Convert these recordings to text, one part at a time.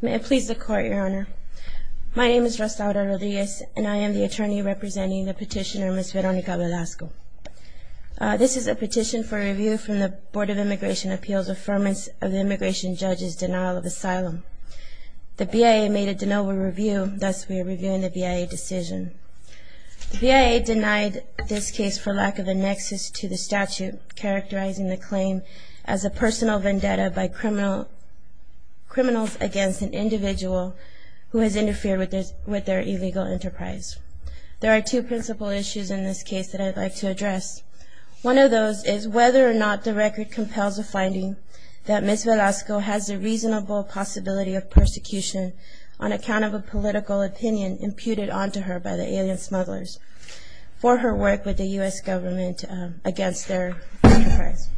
May it please the Court, Your Honor. My name is Rostauda Rodriguez, and I am the attorney representing the petitioner, Ms. Veronica Velasco. This is a petition for review from the Board of Immigration Appeals' Affirmation of the Immigration Judge's Denial of Asylum. The BIA made a de novo review, thus we are reviewing the BIA decision. The BIA denied this case for lack of a nexus to the statute characterizing the claim as a personal vendetta by criminals against an individual who has interfered with their illegal enterprise. There are two principal issues in this case that I'd like to address. One of those is whether or not the record compels a finding that Ms. Velasco has a reasonable possibility of persecution on account of a political opinion imputed onto her by the alien smugglers for her work with the U.S. government against their enterprise.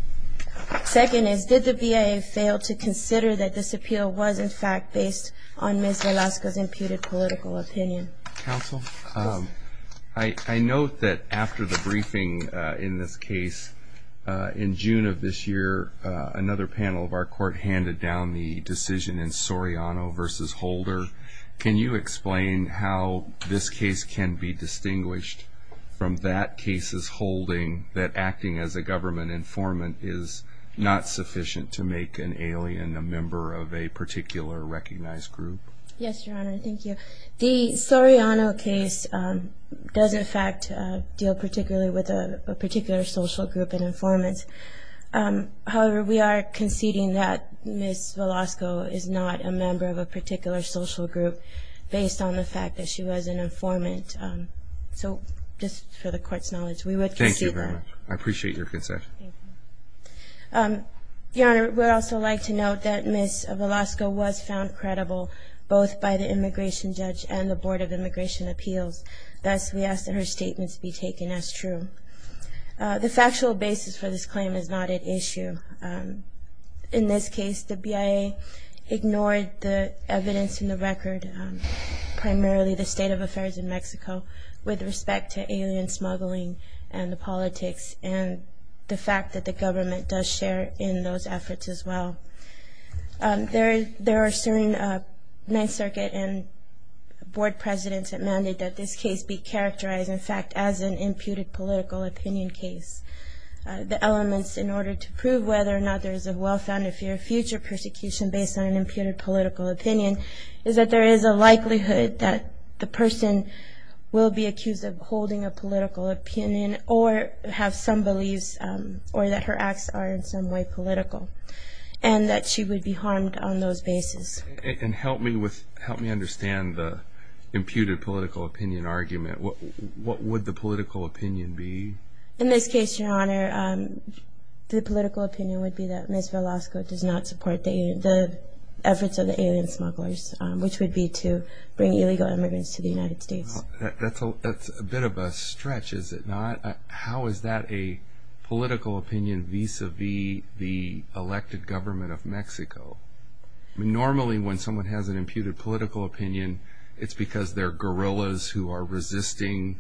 Second is, did the BIA fail to consider that this appeal was in fact based on Ms. Velasco's imputed political opinion? Counsel, I note that after the briefing in this case, in June of this year, another panel of our court handed down the decision in Soriano v. Holder. Can you explain how this case can be distinguished from that case's holding that acting as a government informant is not sufficient to make an alien a member of a particular recognized group? Yes, Your Honor. Thank you. The Soriano case does in fact deal particularly with a particular social group and informants. However, we are conceding that Ms. Velasco is not a member of a particular social group based on the fact that she was an informant. So just for the court's knowledge, we would concede that. Thank you very much. I appreciate your concession. Your Honor, we would also like to note that Ms. Velasco was found credible both by the immigration judge and the Board of Immigration Appeals. Thus, we ask that her statements be taken as true. The factual basis for this claim is not at issue. In this case, the BIA ignored the evidence in the record, primarily the state of affairs in Mexico, with respect to alien smuggling and the politics and the fact that the government does share in those efforts as well. There are certain Ninth Circuit and Board presidents that mandate that this case be characterized, in fact, as an imputed political opinion case. The elements in order to prove whether or not there is a well-founded fear of future persecution based on an imputed political opinion is that there is a likelihood that the person will be accused of holding a political opinion or have some beliefs or that her acts are in some way political and that she would be harmed on those bases. And help me understand the imputed political opinion argument. What would the political opinion be? In this case, Your Honor, the political opinion would be that Ms. Velasco does not support the efforts of the alien smugglers, which would be to bring illegal immigrants to the United States. That's a bit of a stretch, is it not? How is that a political opinion vis-à-vis the elected government of Mexico? Normally, when someone has an imputed political opinion, it's because they're guerrillas who are resisting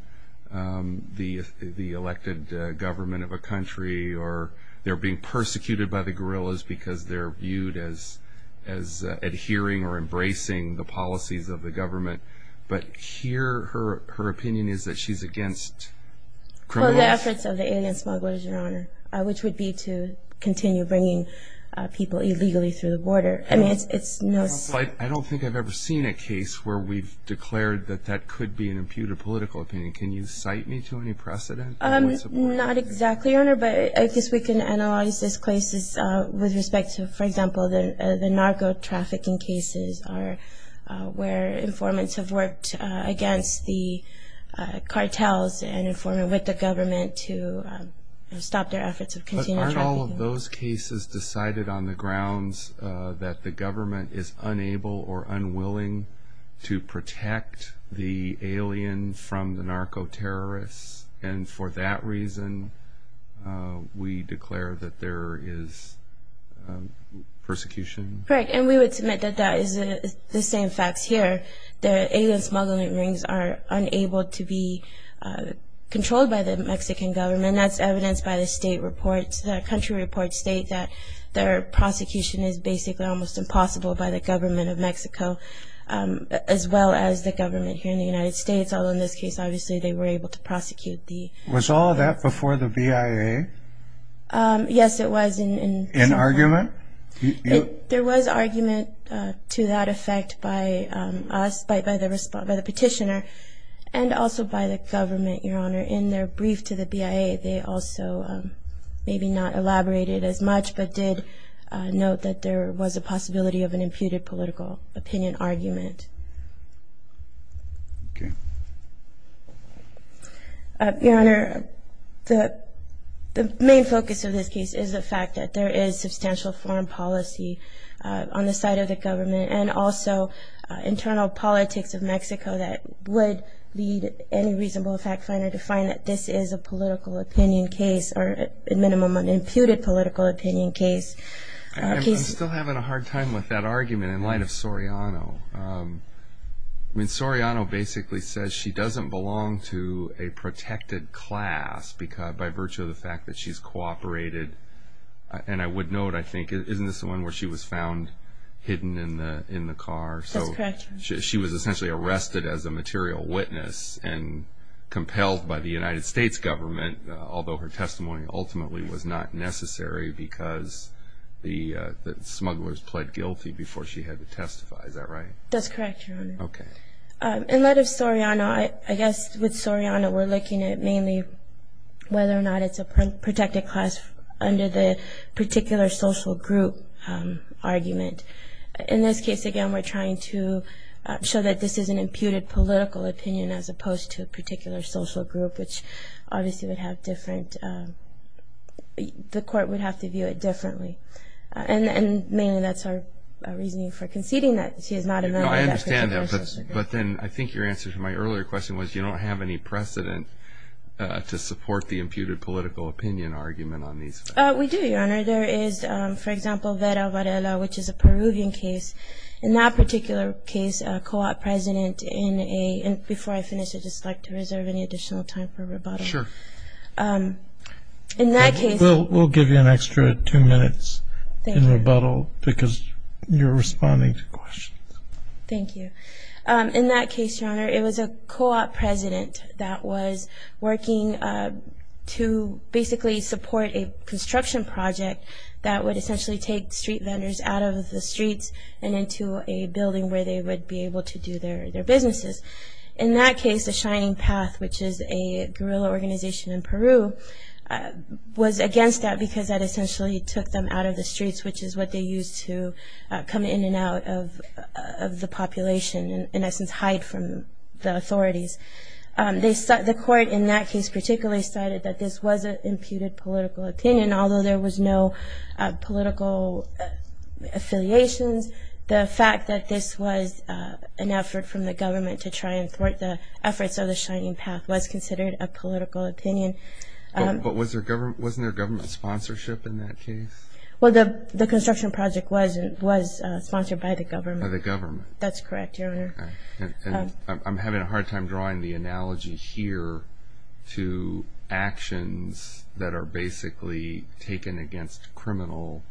the elected government of a country or they're being persecuted by the guerrillas because they're viewed as adhering or embracing the policies of the government. But here, her opinion is that she's against criminals. It's the efforts of the alien smugglers, Your Honor, which would be to continue bringing people illegally through the border. I don't think I've ever seen a case where we've declared that that could be an imputed political opinion. Can you cite me to any precedent? Not exactly, Your Honor, but I guess we can analyze this case with respect to, for example, the narco-trafficking cases where informants have worked against the cartels and informant with the government to stop their efforts of continuing trafficking. But aren't all of those cases decided on the grounds that the government is unable or unwilling to protect the alien from the narco-terrorists? And for that reason, we declare that there is persecution? Correct, and we would submit that that is the same facts here. The alien smuggling rings are unable to be controlled by the Mexican government. That's evidenced by the state reports. The country reports state that their prosecution is basically almost impossible by the government of Mexico, as well as the government here in the United States, although in this case, obviously, they were able to prosecute the- Was all of that before the BIA? Yes, it was in- In argument? There was argument to that effect by us, by the petitioner, and also by the government, Your Honor. In their brief to the BIA, they also maybe not elaborated as much, but did note that there was a possibility of an imputed political opinion argument. Okay. Your Honor, the main focus of this case is the fact that there is substantial foreign policy on the side of the government and also internal politics of Mexico that would lead any reasonable fact finder to find that this is a political opinion case or a minimum of an imputed political opinion case. I'm still having a hard time with that argument in light of Soriano. I mean, Soriano basically says she doesn't belong to a protected class by virtue of the fact that she's cooperated. And I would note, I think, isn't this the one where she was found hidden in the car? That's correct. She was essentially arrested as a material witness and compelled by the United States government, although her testimony ultimately was not necessary because the smugglers pled guilty before she had to testify. Is that right? That's correct, Your Honor. Okay. In light of Soriano, I guess with Soriano we're looking at mainly whether or not it's a protected class under the particular social group argument. In this case, again, we're trying to show that this is an imputed political opinion as opposed to a particular social group, which obviously would have different – the court would have to view it differently. And mainly that's our reasoning for conceding that she is not a member of that particular social group. No, I understand that. But then I think your answer to my earlier question was you don't have any precedent to support the imputed political opinion argument on these facts. We do, Your Honor. There is, for example, Vera Varela, which is a Peruvian case. In that particular case, a co-op president in a – and before I finish, I'd just like to reserve any additional time for rebuttal. Sure. In that case – We'll give you an extra two minutes in rebuttal because you're responding to questions. Thank you. In that case, Your Honor, it was a co-op president that was working to basically support a construction project that would essentially take street vendors out of the streets and into a building where they would be able to do their businesses. In that case, the Shining Path, which is a guerrilla organization in Peru, was against that because that essentially took them out of the streets, which is what they used to come in and out of the population and, in essence, hide from the authorities. The court in that case particularly cited that this was an imputed political opinion, although there was no political affiliations. The fact that this was an effort from the government to try and thwart the efforts of the Shining Path was considered a political opinion. But wasn't there government sponsorship in that case? Well, the construction project was sponsored by the government. By the government. That's correct, Your Honor. I'm having a hard time drawing the analogy here to actions that are basically taken against criminal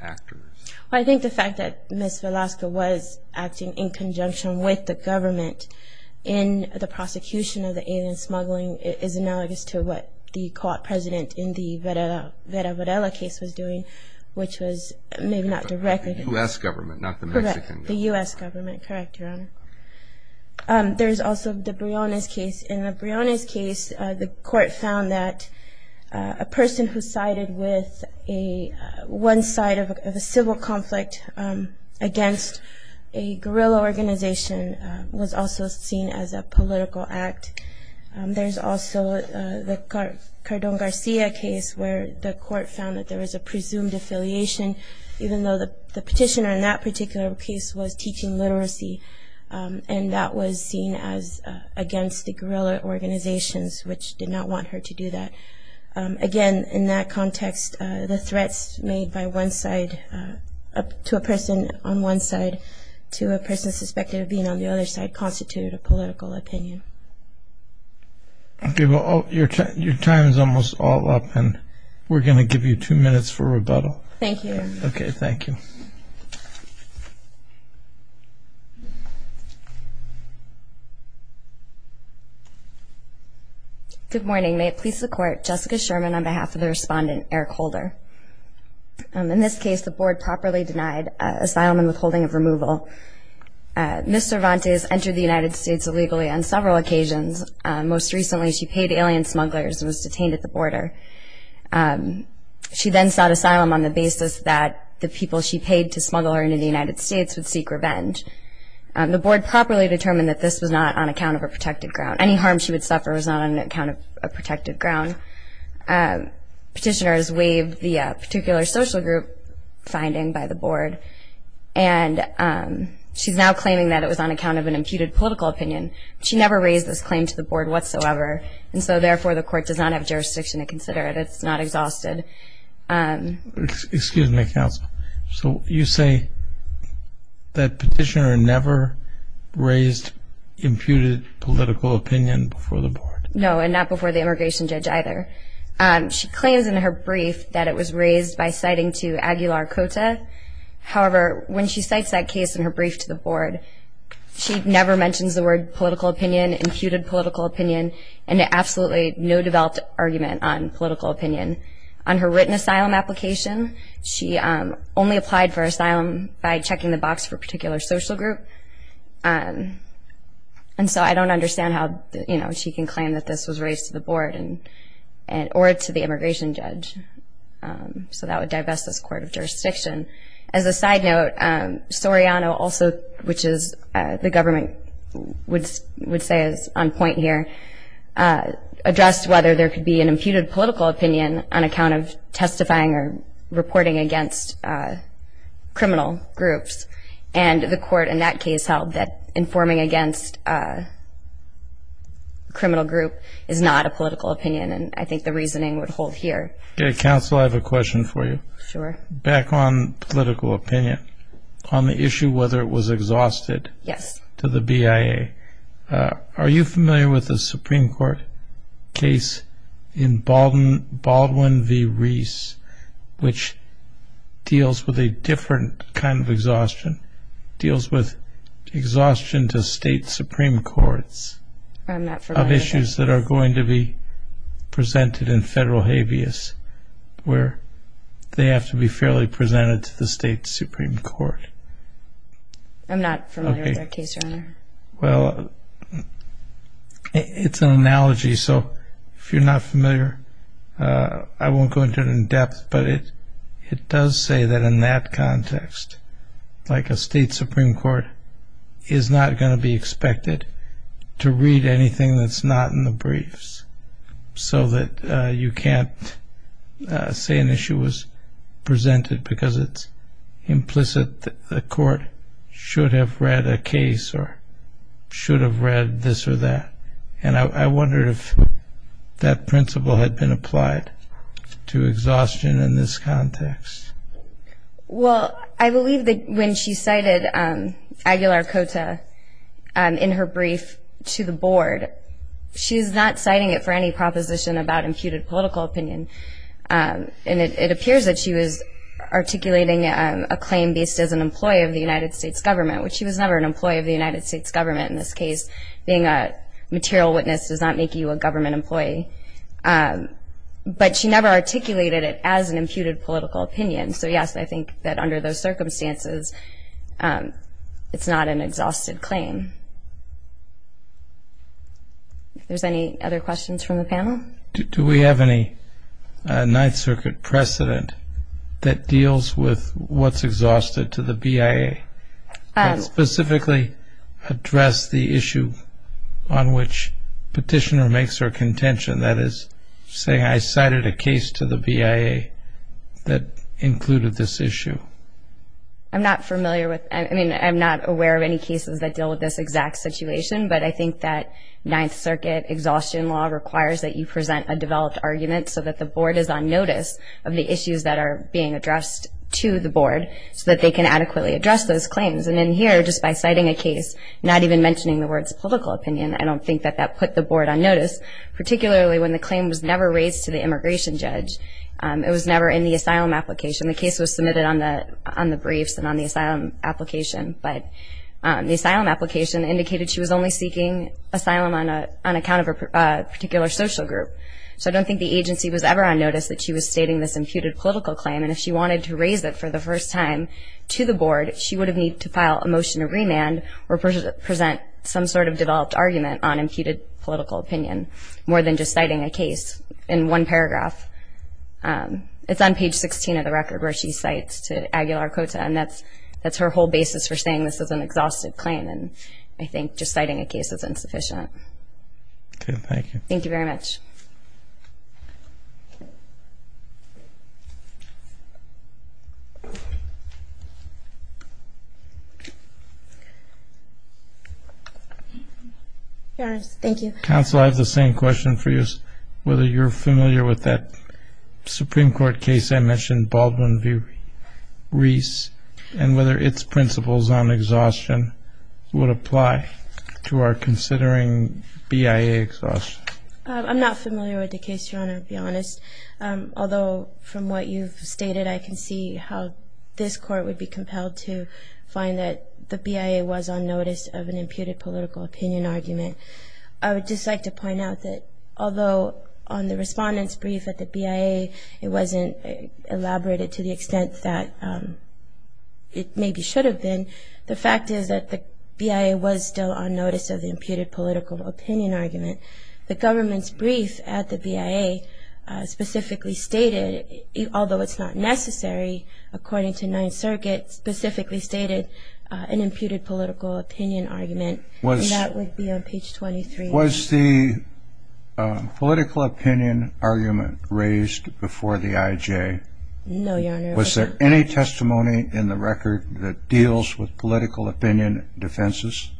actors. I think the fact that Ms. Velasco was acting in conjunction with the government in the prosecution of the alien smuggling is analogous to what the court president in the Vera Varela case was doing, which was maybe not directly. The U.S. government, not the Mexican government. Correct, the U.S. government. Correct, Your Honor. There's also the Briones case. In the Briones case, the court found that a person who sided with one side of a civil conflict against a guerrilla organization was also seen as a political act. There's also the Cardon Garcia case where the court found that there was a presumed affiliation, even though the petitioner in that particular case was teaching literacy, and that was seen as against the guerrilla organizations, which did not want her to do that. Again, in that context, the threats made by one side to a person on one side to a person suspected of being on the other side constituted a political opinion. Okay, well, your time is almost all up, and we're going to give you two minutes for rebuttal. Thank you. Okay, thank you. Thank you. Good morning. May it please the Court, Jessica Sherman on behalf of the respondent, Eric Holder. In this case, the board properly denied asylum and withholding of removal. Ms. Cervantes entered the United States illegally on several occasions. Most recently, she paid alien smugglers and was detained at the border. She then sought asylum on the basis that the people she paid to smuggle her into the United States would seek revenge. The board properly determined that this was not on account of a protected ground. Any harm she would suffer was not on account of a protected ground. Petitioners waived the particular social group finding by the board, and she's now claiming that it was on account of an imputed political opinion. She never raised this claim to the board whatsoever, and so therefore the court does not have jurisdiction to consider it. It's not exhausted. Excuse me, counsel. So you say that petitioner never raised imputed political opinion before the board? No, and not before the immigration judge either. She claims in her brief that it was raised by citing to Aguilar Cota. However, when she cites that case in her brief to the board, she never mentions the word political opinion, imputed political opinion, and absolutely no developed argument on political opinion. On her written asylum application, she only applied for asylum by checking the box for a particular social group, and so I don't understand how, you know, she can claim that this was raised to the board or to the immigration judge. As a side note, Soriano also, which the government would say is on point here, addressed whether there could be an imputed political opinion on account of testifying or reporting against criminal groups, and the court in that case held that informing against a criminal group is not a political opinion, and I think the reasoning would hold here. Counsel, I have a question for you. Sure. Back on political opinion, on the issue whether it was exhausted to the BIA, are you familiar with the Supreme Court case in Baldwin v. Reese, which deals with a different kind of exhaustion, deals with exhaustion to state Supreme Courts of issues that are going to be presented in federal habeas, where they have to be fairly presented to the state Supreme Court? I'm not familiar with that case, Your Honor. Well, it's an analogy, so if you're not familiar, I won't go into it in depth, but it does say that in that context, like a state Supreme Court is not going to be expected to read anything that's not in the briefs, so that you can't say an issue was presented because it's implicit that the court should have read a case or should have read this or that, and I wondered if that principle had been applied to exhaustion in this context. Well, I believe that when she cited Aguilar-Cota in her brief to the board, she's not citing it for any proposition about imputed political opinion, and it appears that she was articulating a claim based as an employee of the United States government, which she was never an employee of the United States government in this case. Being a material witness does not make you a government employee, but she never articulated it as an imputed political opinion, so yes, I think that under those circumstances, it's not an exhausted claim. If there's any other questions from the panel? Do we have any Ninth Circuit precedent that deals with what's exhausted to the BIA and specifically address the issue on which petitioner makes her contention, that is saying I cited a case to the BIA that included this issue? I'm not aware of any cases that deal with this exact situation, but I think that Ninth Circuit exhaustion law requires that you present a developed argument so that the board is on notice of the issues that are being addressed to the board so that they can adequately address those claims, and in here, just by citing a case, not even mentioning the words political opinion, I don't think that that put the board on notice, particularly when the claim was never raised to the immigration judge. It was never in the asylum application. The case was submitted on the briefs and on the asylum application, but the asylum application indicated she was only seeking asylum on account of a particular social group, so I don't think the agency was ever on notice that she was stating this imputed political claim, and if she wanted to raise it for the first time to the board, she would have needed to file a motion to remand or present some sort of developed argument on imputed political opinion, more than just citing a case in one paragraph. It's on page 16 of the record where she cites to Aguilar-Cota, and that's her whole basis for saying this is an exhausted claim, and I think just citing a case is insufficient. Okay, thank you. Thank you very much. Your Honor, thank you. Counsel, I have the same question for you, whether you're familiar with that Supreme Court case I mentioned, Baldwin v. Reese, and whether its principles on exhaustion would apply to our considering BIA exhaustion. I'm not familiar with the case, Your Honor, to be honest, although from what you've stated, I can see how this Court would be compelled to find that the BIA was on notice of an imputed political opinion argument. I would just like to point out that although on the respondent's brief at the BIA, it wasn't elaborated to the extent that it maybe should have been, the fact is that the BIA was still on notice of the imputed political opinion argument. The government's brief at the BIA specifically stated, although it's not necessary, according to Ninth Circuit, specifically stated an imputed political opinion argument, and that would be on page 23. Was the political opinion argument raised before the IJ? No, Your Honor. Was there any testimony in the record that deals with political opinion defenses?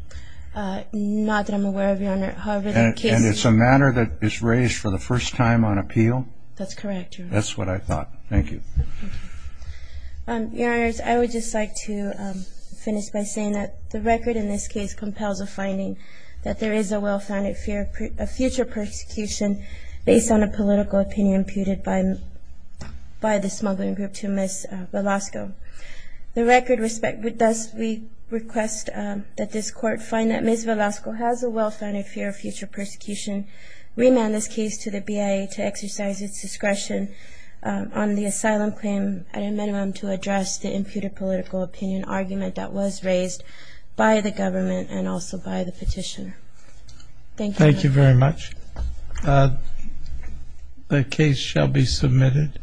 Not that I'm aware of, Your Honor. And it's a matter that is raised for the first time on appeal? That's correct, Your Honor. That's what I thought. Thank you. Thank you. Your Honors, I would just like to finish by saying that the record in this case compels a finding that there is a well-founded fear of future persecution based on a political opinion imputed by the smuggling group to Miss Velasco. The record thus requests that this Court find that Miss Velasco has a well-founded fear of future persecution, remand this case to the BIA to exercise its discretion on the asylum claim at a minimum to address the imputed political opinion argument that was raised by the government and also by the petitioner. Thank you, Your Honor. Thank you very much. The case shall be submitted.